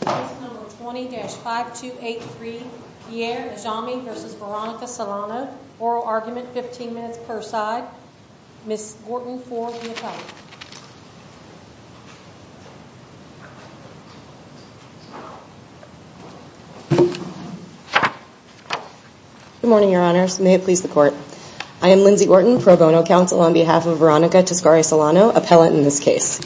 Case number 20-5283, Pierre Ajami v. Veronica Solano. Oral argument, 15 minutes per side. Ms. Wharton for the appellate. Good morning, Your Honors. May it please the Court. I am Lindsay Wharton, pro bono counsel on behalf of Veronica Toscari Solano, appellate in this case.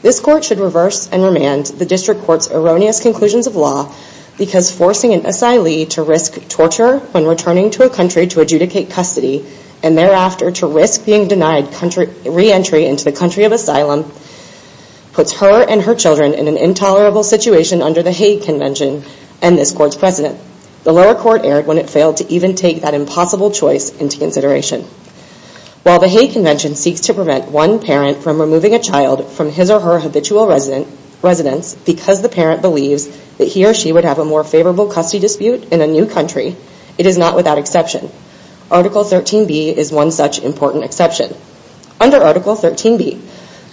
This Court should reverse and remand the District Court's erroneous conclusions of law because forcing an asylee to risk torture when returning to a country to adjudicate custody and thereafter to risk being denied reentry into the country of asylum puts her and her children in an intolerable situation under the Hague Convention and this Court's precedent. The lower court erred when it failed to even take that impossible choice into consideration. While the Hague Convention seeks to prevent one parent from removing a child from his or her habitual residence because the parent believes that he or she would have a more favorable custody dispute in a new country, it is not without exception. Article 13B is one such important exception. Under Article 13B,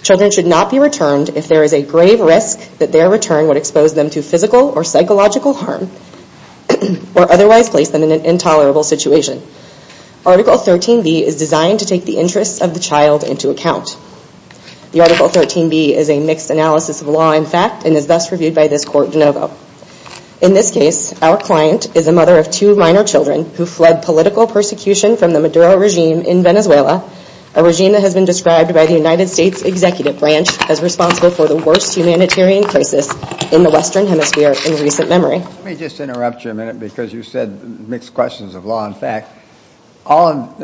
children should not be returned if there is a grave risk that their return would expose them to physical or psychological harm or otherwise place them in an intolerable situation. Article 13B is designed to take the interests of the child into account. The Article 13B is a mixed analysis of law and fact and is thus reviewed by this Court de novo. In this case, our client is a mother of two minor children who fled political persecution from the Maduro regime in Venezuela, a regime that has been described by the United States Executive Branch as responsible for the worst humanitarian crisis in the Western Hemisphere in recent memory. Let me just interrupt you a minute because you said mixed questions of law and fact.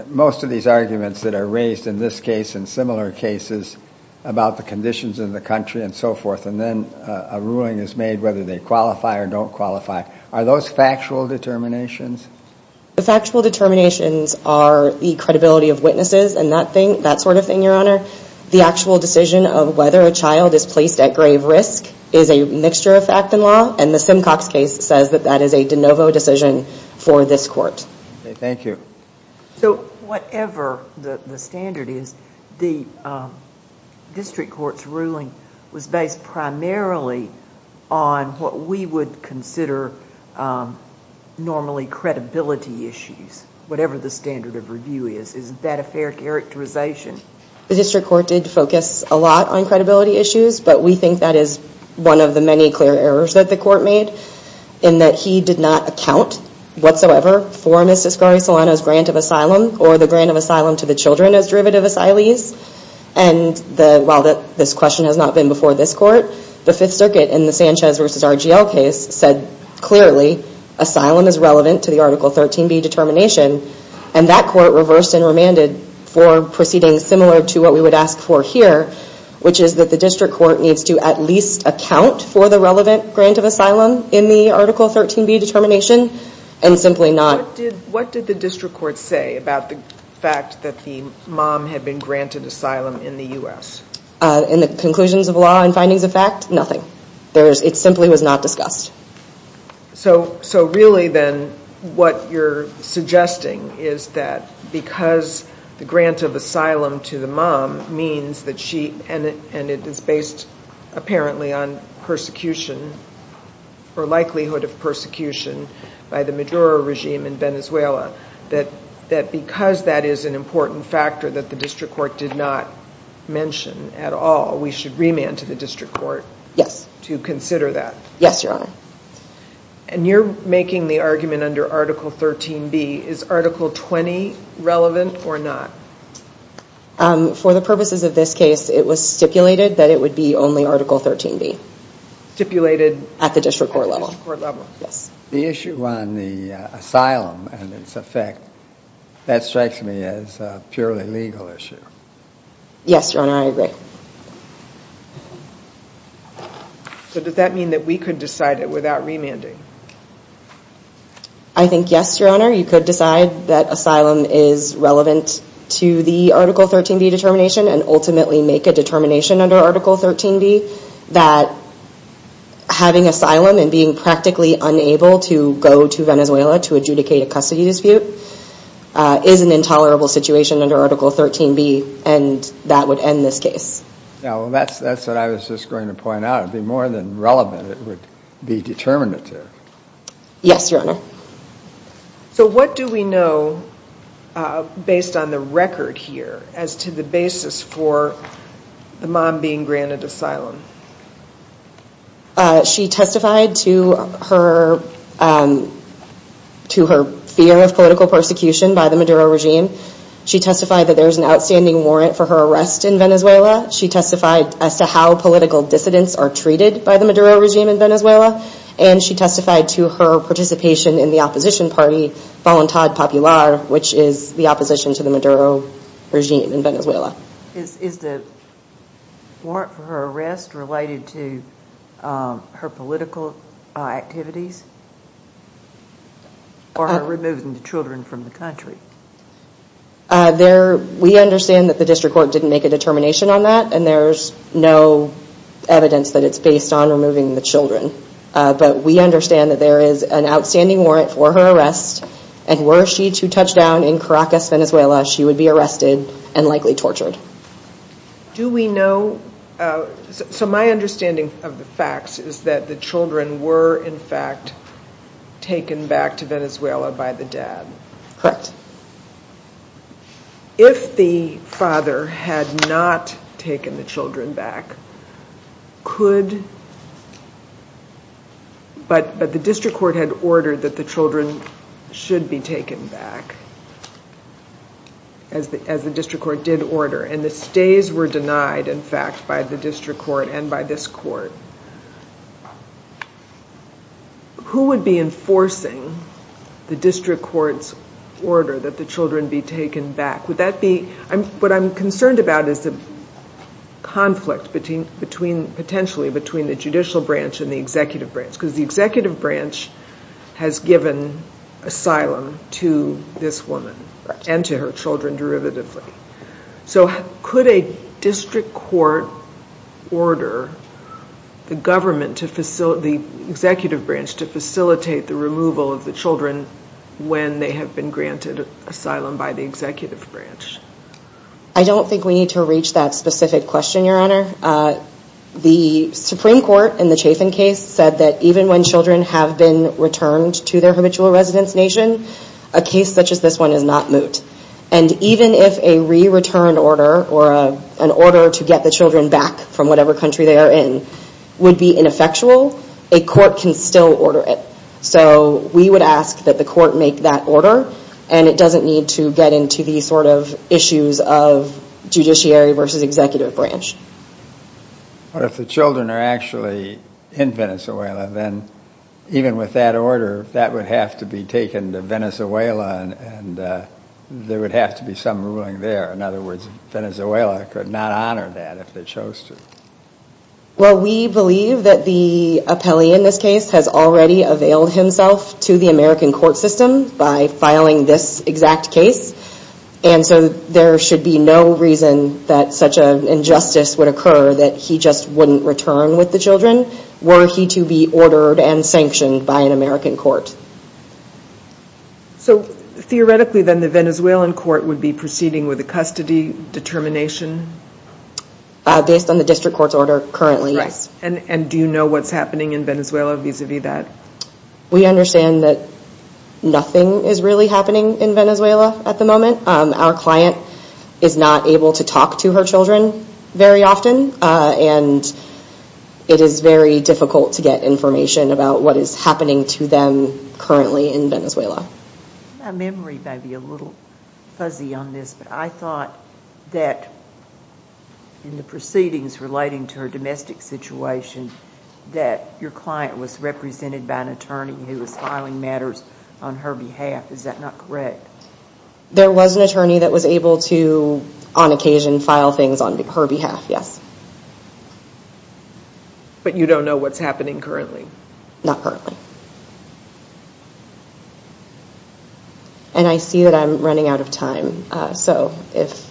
Most of these arguments that are raised in this case and similar cases about the conditions in the country and so forth and then a ruling is made whether they qualify or don't qualify, are those factual determinations? The factual determinations are the credibility of witnesses and that sort of thing, Your Honor. The actual decision of whether a child is placed at grave risk is a mixture of fact and law and the Simcox case says that that is a de novo decision for this Court. Thank you. So whatever the standard is, the District Court's ruling was based primarily on what we would consider normally credibility issues, whatever the standard of review is. Isn't that a fair characterization? The District Court did focus a lot on credibility issues, but we think that is one of the many clear errors that the Court made in that he did not account whatsoever for Ms. Iscari Solano's grant of asylum or the grant of asylum to the children as derivative asylees. And while this question has not been before this Court, the Fifth Circuit in the Sanchez v. RGL case said clearly asylum is relevant to the Article 13b determination and that Court reversed and remanded for proceedings similar to what we would ask for here, which is that the District Court needs to at least account for the relevant grant of asylum in the Article 13b determination and simply not... What did the District Court say about the fact that the mom had been granted asylum in the U.S.? In the conclusions of law and findings of fact, nothing. It simply was not discussed. So really then what you're suggesting is that because the grant of asylum to the mom means that she... and it is based apparently on persecution or likelihood of persecution by the Maduro regime in Venezuela, that because that is an important factor that the District Court did not mention at all, we should remand to the District Court to consider that? Yes, Your Honor. And you're making the argument under Article 13b, is Article 20 relevant or not? For the purposes of this case, it was stipulated that it would be only Article 13b. Stipulated... At the District Court level. At the District Court level. Yes. The issue on the asylum and its effect, that strikes me as a purely legal issue. Yes, Your Honor, I agree. So does that mean that we could decide it without remanding? I think yes, Your Honor. You could decide that asylum is relevant to the Article 13b determination and ultimately make a determination under Article 13b that having asylum and being practically unable to go to Venezuela to adjudicate a custody dispute is an intolerable situation under Article 13b and that would end this case. That's what I was just going to point out. It would be more than relevant, it would be determinative. Yes, Your Honor. So what do we know based on the record here as to the basis for the mom being granted asylum? She testified to her fear of political persecution by the Maduro regime. She testified that there is an outstanding warrant for her arrest in Venezuela. She testified as to how political dissidents are treated by the Maduro regime in Venezuela and she testified to her participation in the opposition party, Voluntad Popular, which is the opposition to the Maduro regime in Venezuela. Is the warrant for her arrest related to her political activities or her removing the children from the country? We understand that the district court didn't make a determination on that and there's no evidence that it's based on removing the children. But we understand that there is an outstanding warrant for her arrest and were she to touch down in Caracas, Venezuela, she would be arrested and likely tortured. Do we know, so my understanding of the facts is that the children were in fact taken back to Venezuela by the dad. But if the father had not taken the children back, could, but the district court had ordered that the children should be taken back as the district court did order and the stays were denied in fact by the district court and by this court. Who would be enforcing the district court's order that the children be taken back? Would that be, what I'm concerned about is the conflict potentially between the judicial branch and the executive branch because the executive branch has given asylum to this woman and to her children derivatively. So could a district court order the government to facilitate, the executive branch to facilitate the removal of the children when they have been granted asylum by the executive branch? I don't think we need to reach that specific question, Your Honor. The Supreme Court in the Chafin case said that even when children have been returned to their habitual residence nation, a case such as this one is not moot. And even if a re-return order or an order to get the children back from whatever country they are in would be ineffectual, a court can still order it. So we would ask that the court make that order and it doesn't need to get into the sort of issues of judiciary versus executive branch. But if the children are actually in Venezuela, then even with that order, that would have to be taken to Venezuela and there would have to be some ruling there. In other words, Venezuela could not honor that if they chose to. Well, we believe that the appellee in this case has already availed himself to the American court system by filing this exact case. And so there should be no reason that such an injustice would occur that he just wouldn't return with the children were he to be ordered and sanctioned by an American court. So theoretically then the Venezuelan court would be proceeding with a custody determination? Based on the district court's order currently, yes. And do you know what's happening in Venezuela vis-a-vis that? We understand that nothing is really happening in Venezuela at the moment. Our client is not able to talk to her children very often and it is very difficult to get information about what is happening to them currently in Venezuela. My memory may be a little fuzzy on this, but I thought that in the proceedings relating to her domestic situation that your client was represented by an attorney who was filing matters on her behalf. Is that not correct? There was an attorney that was able to on occasion file things on her behalf, yes. But you don't know what's happening currently? Not currently. And I see that I'm running out of time, so if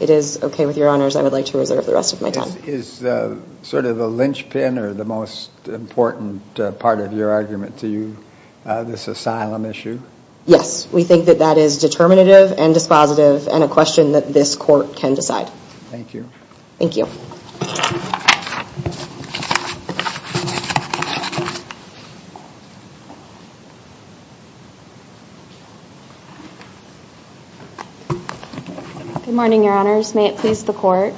it is okay with your honors I would like to reserve the rest of my time. Is sort of the linchpin or the most important part of your argument to you this asylum issue? Yes, we think that that is determinative and dispositive and a question that this court can decide. Thank you. Thank you. Good morning, your honors. May it please the court.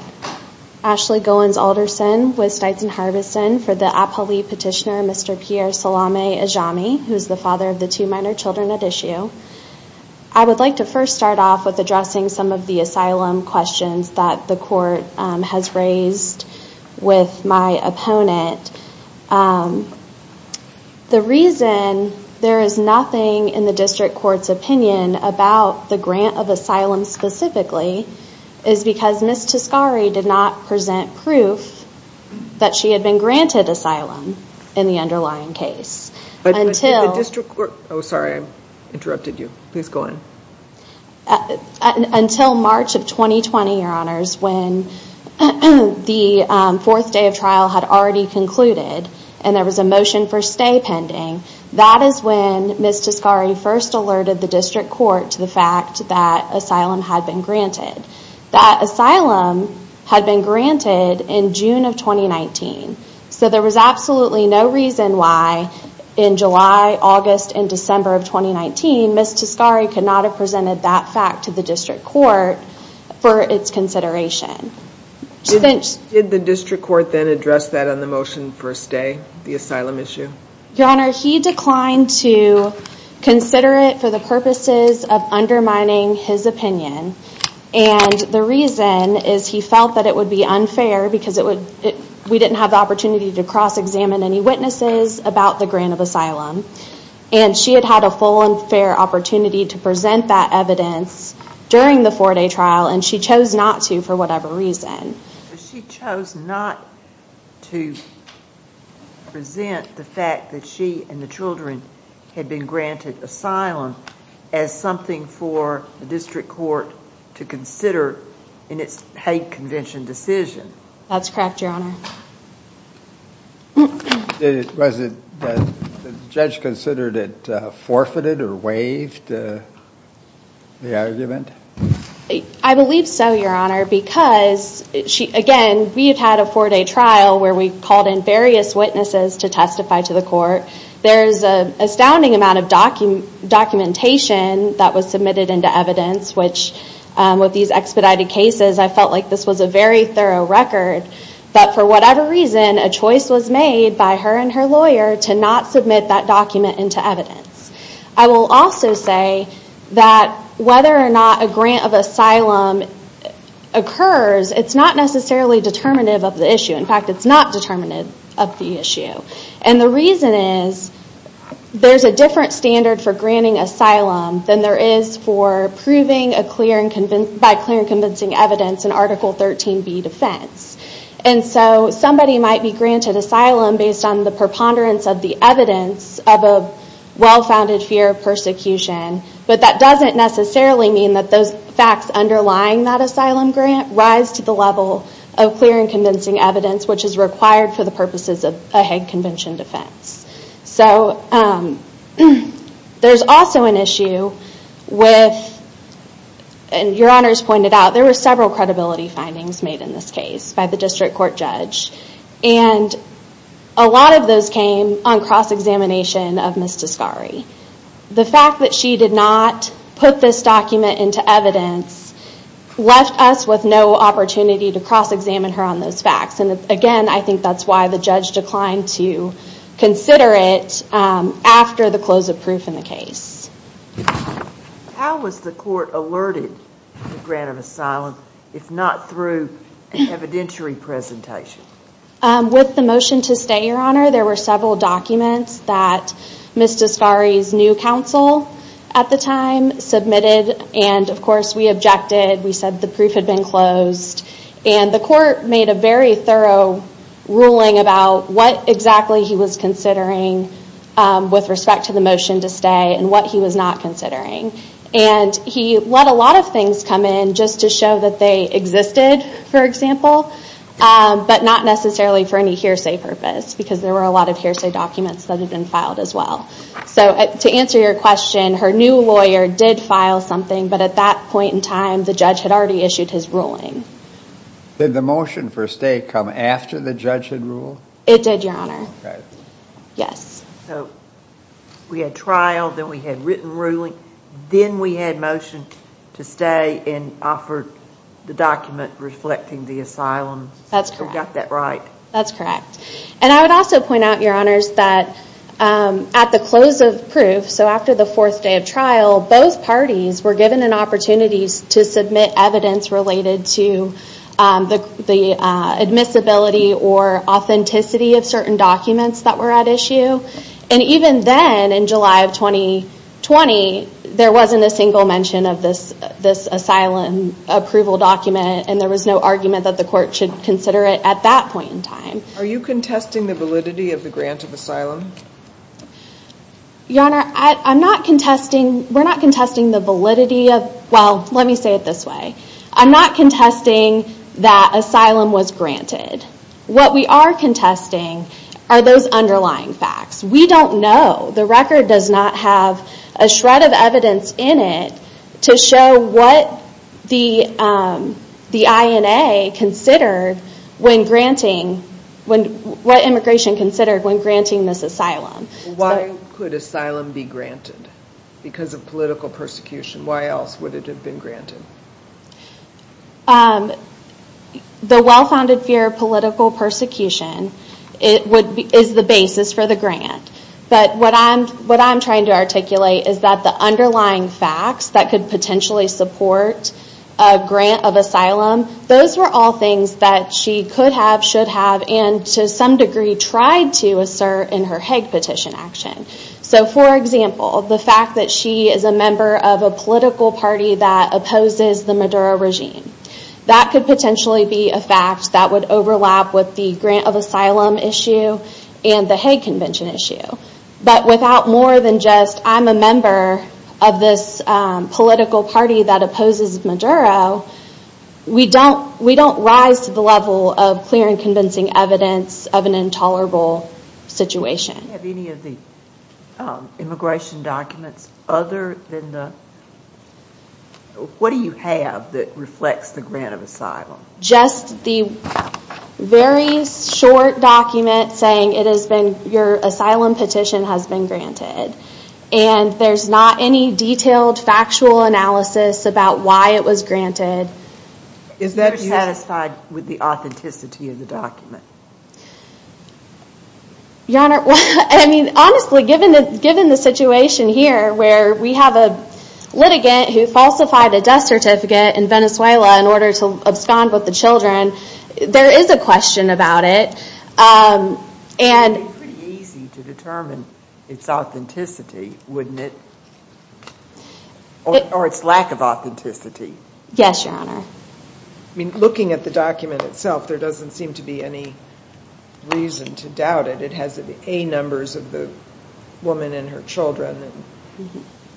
Ashley Goins Alderson with Stites & Harbison for the APALE petitioner Mr. Pierre Salame Ajami, who is the father of the two minor children at issue. I would like to first start off with addressing some of the asylum questions that the court has raised with my opponent. The reason there is nothing in the district court's opinion about the grant of asylum specifically is because Ms. Toscari did not present proof that she had been granted asylum in the underlying case. The district court, oh sorry I interrupted you. Please go on. Until March of 2020, your honors, when the fourth day of trial had already concluded and there was a motion for stay pending, that is when Ms. Toscari first alerted the district court to the fact that asylum had been granted. That asylum had been granted in June of 2019. So there was absolutely no reason why in July, August, and December of 2019 Ms. Toscari could not have presented that fact to the district court for its consideration. Did the district court then address that on the motion for stay, the asylum issue? Your honor, he declined to consider it for the purposes of undermining his opinion. And the reason is he felt that it would be unfair because we didn't have the opportunity to cross examine any witnesses about the grant of asylum. And she had had a full and fair opportunity to present that evidence during the four day trial and she chose not to for whatever reason. She chose not to present the fact that she and the children had been granted asylum as something for the district court to consider in its hate convention decision. That's correct, your honor. Was the judge considered it forfeited or waived, the argument? I believe so, your honor, because again, we've had a four day trial where we've called in various witnesses to testify to the court. There's an astounding amount of documentation that was submitted into evidence which with these expedited cases, I felt like this was a very thorough record that for whatever reason, a choice was made by her and her lawyer to not submit that document into evidence. I will also say that whether or not a grant of asylum occurs, it's not necessarily determinative of the issue. In fact, it's not determinative of the issue. The reason is there's a different standard for granting asylum than there is for proving by clear and convincing evidence in Article 13b defense. Somebody might be granted asylum based on the preponderance of the evidence of a well-founded fear of persecution, but that doesn't necessarily mean that those facts underlying that asylum grant rise to the level of clear and convincing evidence which is required for the purposes of a Hague Convention defense. There's also an issue with, and your honors pointed out, there were several credibility findings made in this case by the district court judge. A lot of those came on cross-examination of Ms. Toscari. The fact that she did not put this document into evidence left us with no opportunity to cross-examine her on those facts. Again, I think that's why the judge declined to consider it after the close of proof in the case. How was the court alerted to grant of asylum, if not through an evidentiary presentation? With the motion to stay, your honor, there were several documents that Ms. Toscari's new counsel at the time submitted, and of course we objected. We said the proof had been closed. The court made a very thorough ruling about what exactly he was considering with respect to the motion to stay and what he was not considering. He let a lot of things come in just to show that they existed, for example, but not necessarily for any hearsay purpose because there were a lot of hearsay documents that had been filed as well. To answer your question, her new lawyer did file something, but at that point in time the judge had already issued his ruling. Did the motion for stay come after the judge had ruled? It did, your honor. We had trial, then we had written ruling, then we had motion to stay and offered the document reflecting the asylum. We got that right. That's correct. I would also point out, your honors, that at the close of proof, so after the fourth day of trial, both parties were given an opportunity to submit evidence related to the admissibility or authenticity of certain documents that were at issue. Even then, in July of 2020, there wasn't a single mention of this asylum approval document, and there was no argument that the court should consider it at that point in time. Are you contesting the validity of the grant of asylum? Your honor, we're not contesting the validity of, well, let me say it this way. I'm not contesting that asylum was granted. What we are contesting are those underlying facts. We don't know. The record does not have a shred of evidence in it to show what the INA considered when granting, what immigration considered when granting this asylum. Why could asylum be granted? Because of political persecution. Why else would it have been granted? The well-founded fear of political persecution is the basis for the grant. But what I'm trying to articulate is that the underlying facts that could potentially support a grant of asylum, those were all things that she could have, should have, and to some degree tried to assert in her Hague petition action. For example, the fact that she is a member of a political party that opposes the Maduro regime. That could potentially be a fact that would overlap with the grant of asylum issue and the Hague Convention issue. But without more than just, I'm a member of this political party that opposes Maduro, we don't rise to the level of clear and convincing evidence of an intolerable situation. Do you have any of the immigration documents other than the, what do you have that reflects the grant of asylum? Just the very short document saying it has been, your asylum petition has been granted. And there's not any detailed factual analysis about why it was granted. Is that satisfied with the authenticity of the document? Honestly, given the situation here where we have a litigant who falsified a death certificate in Venezuela in order to abscond with the children, there is a question about it. It would be pretty easy to determine its authenticity, wouldn't it? Or its lack of authenticity. Yes, Your Honor. Looking at the document itself, there doesn't seem to be any reason to doubt it. It has the A numbers of the woman and her children. It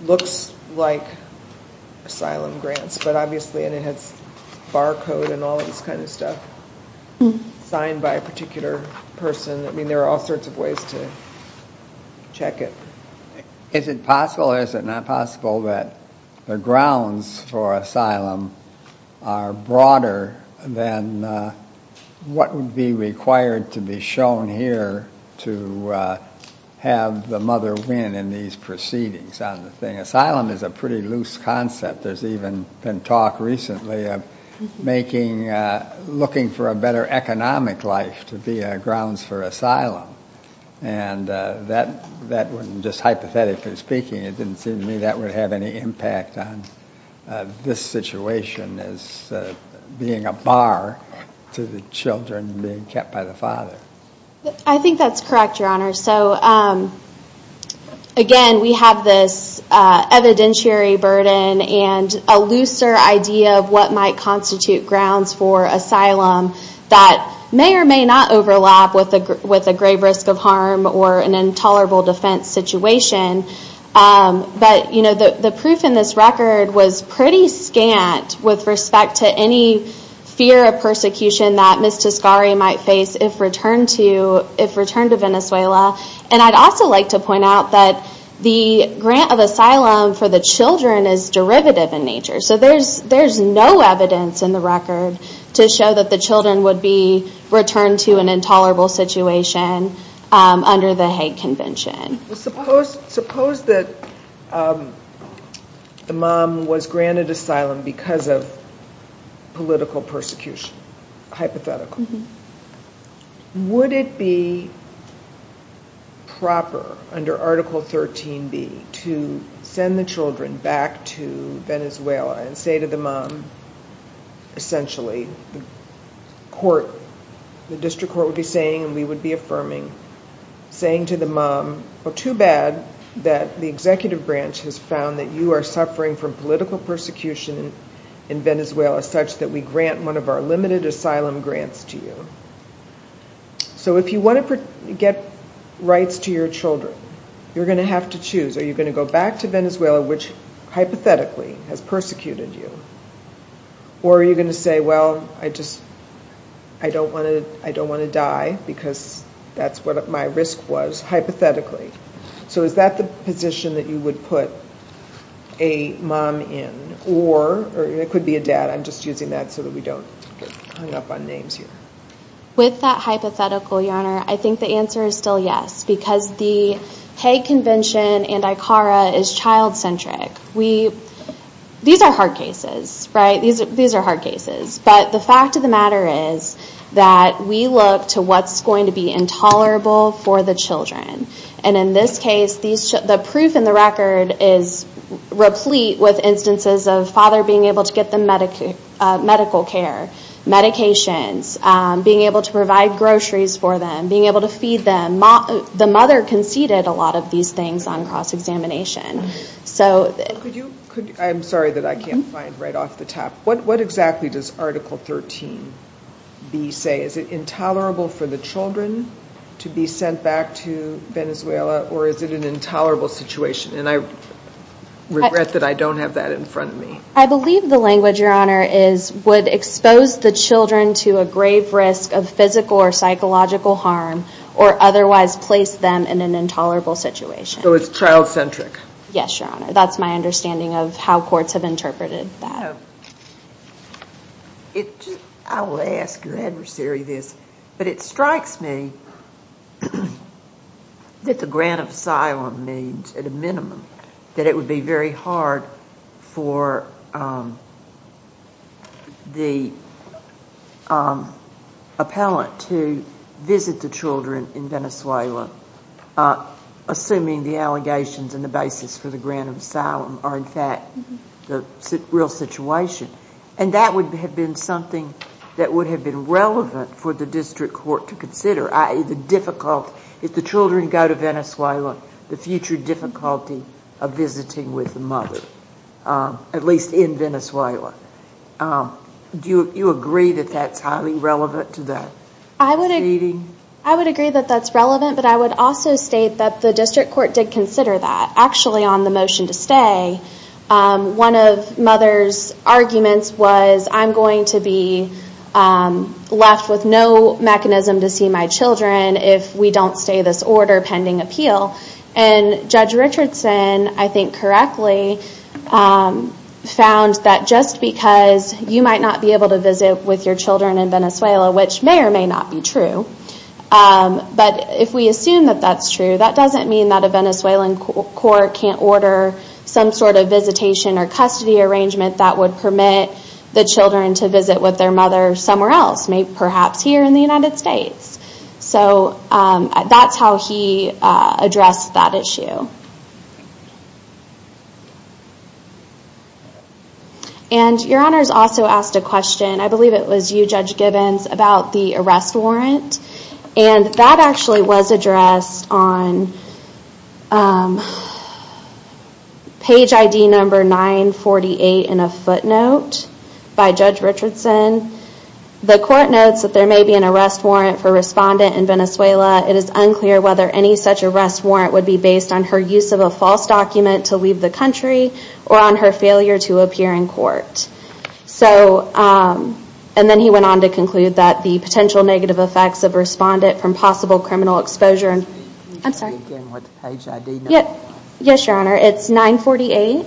looks like asylum grants, but obviously, and it has barcode and all this kind of stuff signed by a particular person. I mean, there are all sorts of ways to check it. Is it possible or is it not possible that the grounds for asylum are broader than what would be required to be shown here to have the mother win in these proceedings? Asylum is a pretty loose concept. There's even been talk recently of looking for a better economic life to be grounds for asylum. And that was just hypothetically speaking. It didn't seem to me that would have any impact on this situation as being a bar to the children being kept by the father. I think that's correct, Your Honor. Again, we have this evidentiary burden and a looser idea of what might constitute grounds for asylum that may or may not overlap with a grave risk of harm or an intolerable defense situation. But the proof in this record was pretty scant with respect to any fear of persecution that Ms. Tescari might face if returned to Venezuela. And I'd also like to point out that the grant of asylum for the children is derivative in nature. So there's no evidence in the record to show that the children would be returned to an intolerable situation under the Hague Convention. Suppose that the mom was granted asylum because of political persecution, hypothetically. Would it be proper under Article 13b to send the children back to Venezuela and say to the mom, essentially, the district court would be saying and we would be affirming, saying to the mom, too bad that the executive branch has found that you are suffering from political persecution in Venezuela such that we grant one of our limited asylum grants to you. So if you want to get rights to your children, you're going to have to choose. Are you going to go back to Venezuela, which hypothetically has persecuted you? Or are you going to say, well, I don't want to die because that's what my risk was, hypothetically. So is that the position that you would put a mom in? Or it could be a dad. I'm just using that so that we don't get hung up on names here. With that hypothetical, Your Honor, I think the answer is still yes because the Hague Convention and ICARA is child-centric. These are hard cases, right? These are hard cases. But the fact of the matter is that we look to what's going to be intolerable for the children. And in this case, the proof in the record is replete with instances of father being able to get them medical care, medications, being able to provide groceries for them, being able to feed them. The mother conceded a lot of these things on cross-examination. I'm sorry that I can't find right off the top. What exactly does Article 13b say? Is it intolerable for the children to be sent back to Venezuela, or is it an intolerable situation? And I regret that I don't have that in front of me. I believe the language, Your Honor, is would expose the children to a grave risk of physical or psychological harm or otherwise place them in an intolerable situation. So it's child-centric. Yes, Your Honor. That's my understanding of how courts have interpreted that. I will ask your adversary this, but it strikes me that the grant of asylum means at a minimum that it would be very hard for the appellant to visit the children in Venezuela, assuming the allegations and the basis for the grant of asylum are in fact the real situation. And that would have been something that would have been relevant for the district court to consider, i.e. the difficult, if the children go to Venezuela, the future difficulty of visiting with the mother, at least in Venezuela. Do you agree that that's highly relevant to that? I would agree that that's relevant, but I would also state that the district court did consider that. Actually, on the motion to stay, one of Mother's arguments was, I'm going to be left with no mechanism to see my children if we don't stay this order pending appeal. And Judge Richardson, I think correctly, found that just because you might not be able to visit with your children in Venezuela, which may or may not be true, but if we assume that that's true, that doesn't mean that a Venezuelan court can't order some sort of visitation or custody arrangement that would permit the children to visit with their mother somewhere else, perhaps here in the United States. So that's how he addressed that issue. And Your Honors also asked a question, I believe it was you, Judge Gibbons, about the arrest warrant. And that actually was addressed on page ID number 948 in a footnote by Judge Richardson. The court notes that there may be an arrest warrant for a respondent in Venezuela. It is unclear whether any such arrest warrant would be based on her use of a false document to leave the country or on her failure to appear in court. And then he went on to conclude that the potential negative effects of a respondent from possible criminal exposure... I'm sorry. Yes, Your Honor. It's 948.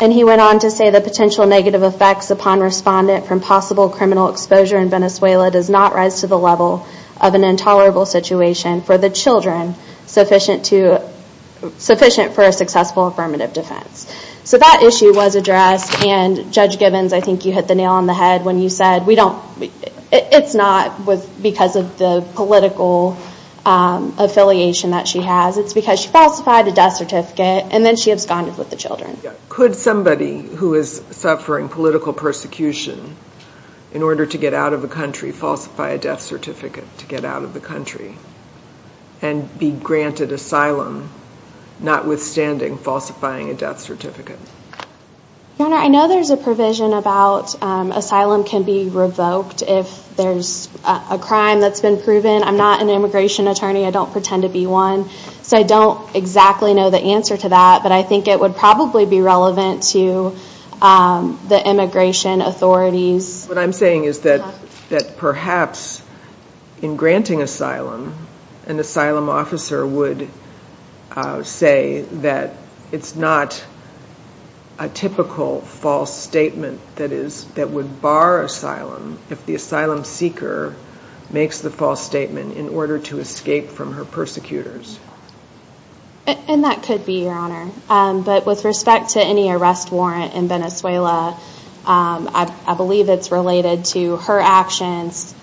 And he went on to say the potential negative effects upon a respondent from possible criminal exposure in Venezuela does not rise to the level of an intolerable situation for the children sufficient for a successful affirmative defense. So that issue was addressed. And Judge Gibbons, I think you hit the nail on the head when you said it's not because of the political affiliation that she has. It's because she falsified a death certificate and then she absconded with the children. Could somebody who is suffering political persecution in order to get out of the country falsify a death certificate to get out of the country and be granted asylum notwithstanding falsifying a death certificate? Your Honor, I know there's a provision about asylum can be revoked if there's a crime that's been proven. I'm not an immigration attorney. I don't pretend to be one. So I don't exactly know the answer to that, but I think it would probably be relevant to the immigration authorities. What I'm saying is that perhaps in granting asylum, an asylum officer would say that it's not a typical false statement that would bar asylum if the asylum seeker makes the false statement in order to escape from her persecutors. And that could be, Your Honor. But with respect to any arrest warrant in Venezuela, I believe it's related to her actions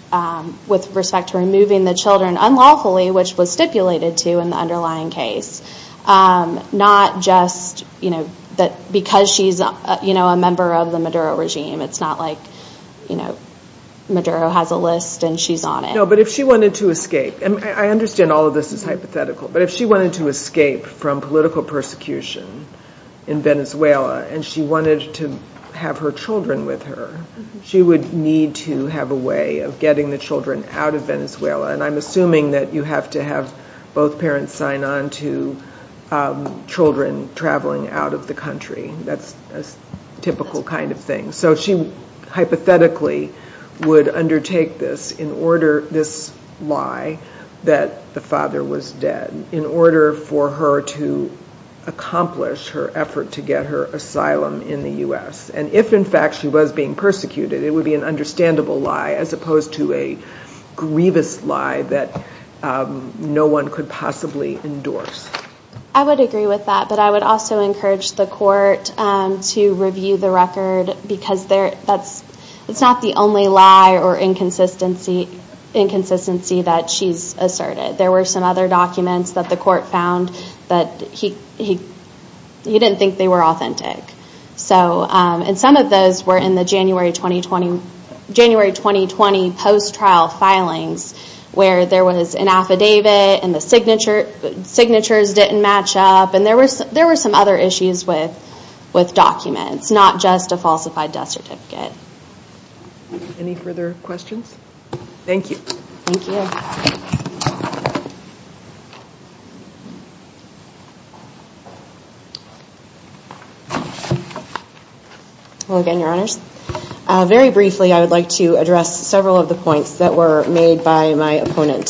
with respect to removing the children unlawfully, which was stipulated to in the underlying case, not just because she's a member of the Maduro regime. It's not like Maduro has a list and she's on it. No, but if she wanted to escape, and I understand all of this is hypothetical, but if she wanted to escape from political persecution in Venezuela and she wanted to have her children with her, she would need to have a way of getting the children out of Venezuela. And I'm assuming that you have to have both parents sign on to children traveling out of the country. That's a typical kind of thing. So she hypothetically would undertake this lie that the father was dead in order for her to accomplish her effort to get her asylum in the U.S. And if, in fact, she was being persecuted, it would be an understandable lie as opposed to a grievous lie that no one could possibly endorse. I would agree with that, but I would also encourage the court to review the record because it's not the only lie or inconsistency that she's asserted. There were some other documents that the court found that he didn't think they were authentic. And some of those were in the January 2020 post-trial filings where there was an affidavit and the signatures didn't match up, and there were some other issues with documents, not just a falsified death certificate. Any further questions? Thank you. Thank you. Well, again, Your Honors, very briefly, I would like to address several of the points that were made by my opponent.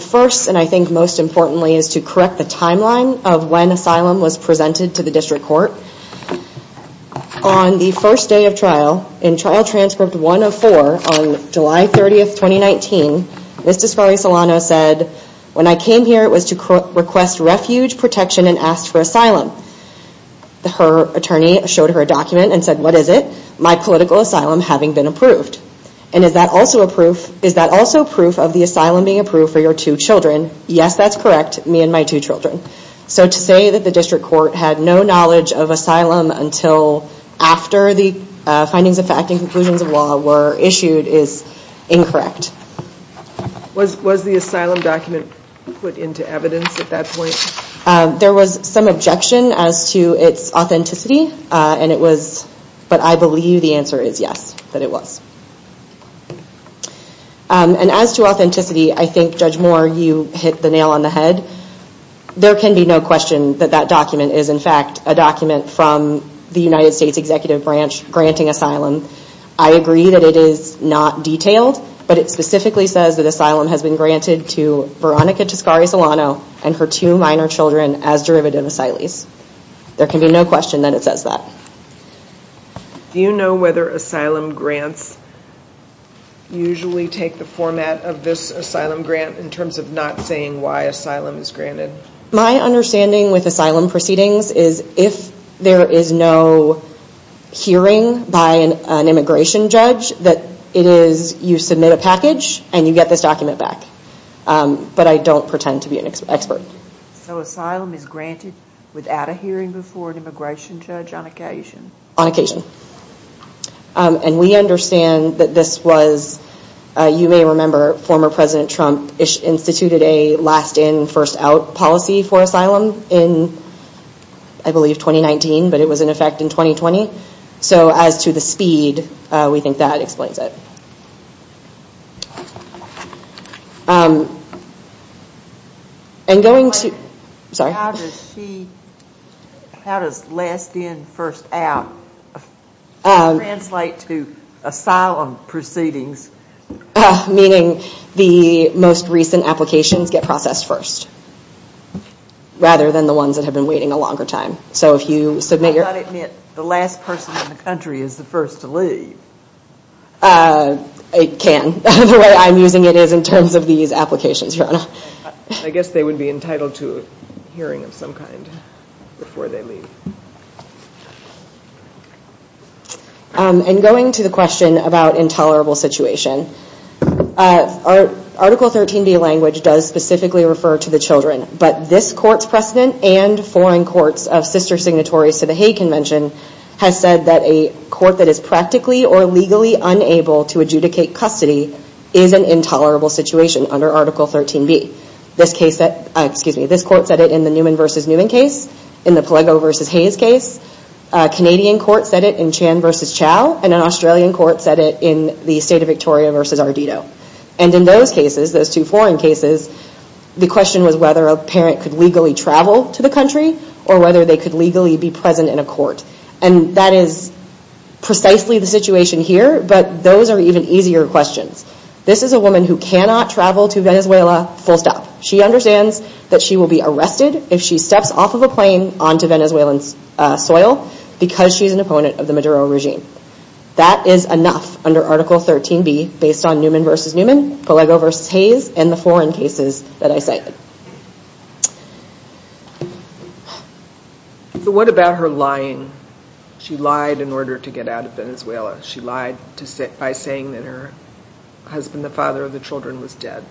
First, and I think most importantly, is to correct the timeline of when asylum was presented to the district court. On the first day of trial, in Trial Transcript 104 on July 30, 2019, Ms. Descari Solano said, when I came here it was to request refuge, protection, and ask for asylum. Her attorney showed her a document and said, what is it? My political asylum having been approved. And is that also proof of the asylum being approved for your two children? Yes, that's correct, me and my two children. So to say that the district court had no knowledge of asylum until after the findings of fact and conclusions of law were issued is incorrect. Was the asylum document put into evidence at that point? There was some objection as to its authenticity, but I believe the answer is yes, that it was. And as to authenticity, I think, Judge Moore, you hit the nail on the head. There can be no question that that document is, in fact, a document from the United States Executive Branch granting asylum. I agree that it is not detailed, but it specifically says that asylum has been granted to Veronica Descari Solano and her two minor children as derivative asylees. There can be no question that it says that. Do you know whether asylum grants usually take the format of this asylum grant in terms of not saying why asylum is granted? My understanding with asylum proceedings is, if there is no hearing by an immigration judge, that it is you submit a package and you get this document back. But I don't pretend to be an expert. So asylum is granted without a hearing before an immigration judge on occasion? On occasion. And we understand that this was, you may remember, former President Trump instituted a last in, first out policy for asylum in, I believe, 2019, but it was in effect in 2020. So as to the speed, we think that explains it. How does last in, first out translate to asylum proceedings? Meaning the most recent applications get processed first, rather than the ones that have been waiting a longer time. I thought it meant the last person in the country is the first to leave. It can. The way I'm using it is in terms of these applications, Your Honor. I guess they would be entitled to a hearing of some kind before they leave. And going to the question about intolerable situation, Article 13B language does specifically refer to the children, but this court's precedent and foreign courts of sister signatories to the Hague Convention has said that a court that is practically or legally unable to adjudicate custody is an intolerable situation under Article 13B. This court said it in the Newman v. Newman case, in the Palego v. Hayes case. A Canadian court said it in Chan v. Chow, and an Australian court said it in the state of Victoria v. Ardito. And in those cases, those two foreign cases, the question was whether a parent could legally travel to the country or whether they could legally be present in a court. And that is precisely the situation here, but those are even easier questions. This is a woman who cannot travel to Venezuela full stop. She understands that she will be arrested if she steps off of a plane onto Venezuelan soil because she's an opponent of the Maduro regime. That is enough under Article 13B based on Newman v. Newman, Palego v. Hayes, and the foreign cases that I cited. So what about her lying? She lied in order to get out of Venezuela. She lied by saying that her husband, the father of the children, was dead.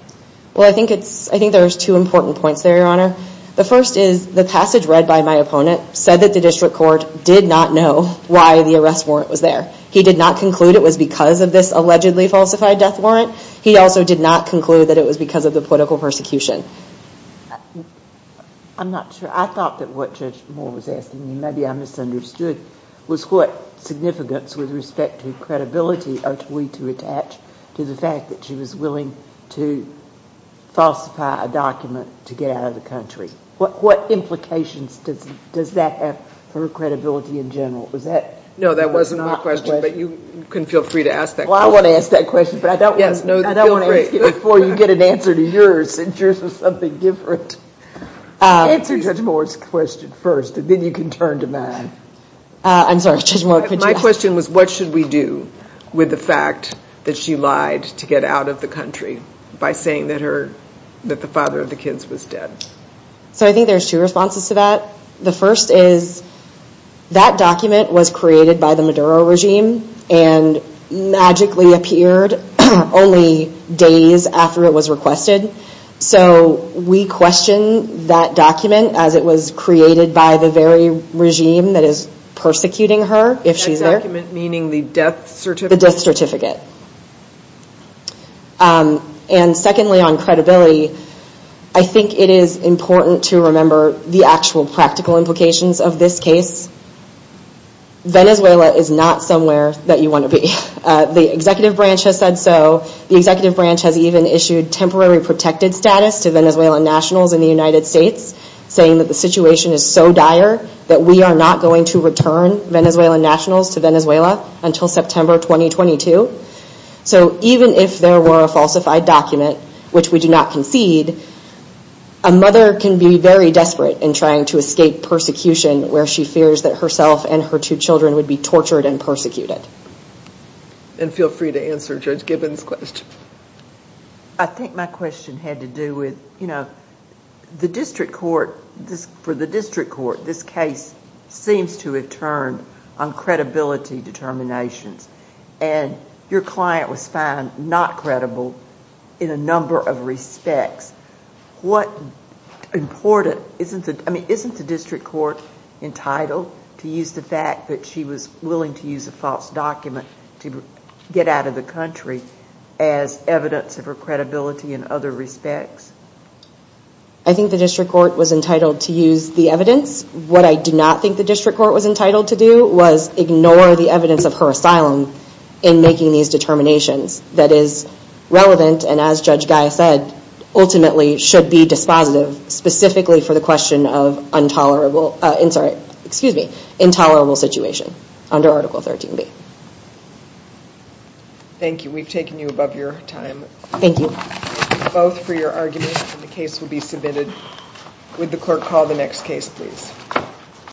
Well, I think there's two important points there, Your Honor. The first is the passage read by my opponent said that the district court did not know why the arrest warrant was there. He did not conclude it was because of this allegedly falsified death warrant. He also did not conclude that it was because of the political persecution. I'm not sure. I thought that what Judge Moore was asking, and maybe I misunderstood, was what significance with respect to credibility are we to attach to the fact that she was willing to falsify a document to get out of the country? What implications does that have for credibility in general? No, that wasn't my question, but you can feel free to ask that question. Well, I want to ask that question, but I don't want to ask it before you get an answer to yours, since yours was something different. Answer Judge Moore's question first, and then you can turn to mine. I'm sorry, Judge Moore, could you ask? My question was, what should we do with the fact that she lied to get out of the country by saying that the father of the kids was dead? I think there's two responses to that. The first is that document was created by the Maduro regime and magically appeared only days after it was requested. We question that document as it was created by the very regime that is persecuting her if she's there. That document meaning the death certificate? The death certificate. Secondly, on credibility, I think it is important to remember the actual practical implications of this case. Venezuela is not somewhere that you want to be. The executive branch has said so. The executive branch has even issued temporary protected status to Venezuelan nationals in the United States, saying that the situation is so dire that we are not going to return Venezuelan nationals to Venezuela until September 2022. Even if there were a falsified document, which we do not concede, a mother can be very desperate in trying to escape persecution where she fears that herself and her two children would be tortured and persecuted. Feel free to answer Judge Gibbons' question. I think my question had to do with the district court. For the district court, this case seems to have turned on credibility determinations, and your client was found not credible in a number of respects. Isn't the district court entitled to use the fact that she was willing to use a false document to get out of the country as evidence of her credibility in other respects? I think the district court was entitled to use the evidence. What I do not think the district court was entitled to do was ignore the evidence of her asylum in making these determinations that is relevant and, as Judge Gaya said, ultimately should be dispositive, specifically for the question of intolerable situation under Article 13b. Thank you. We've taken you above your time. Thank you. Both for your arguments, and the case will be submitted. Would the clerk call the next case, please?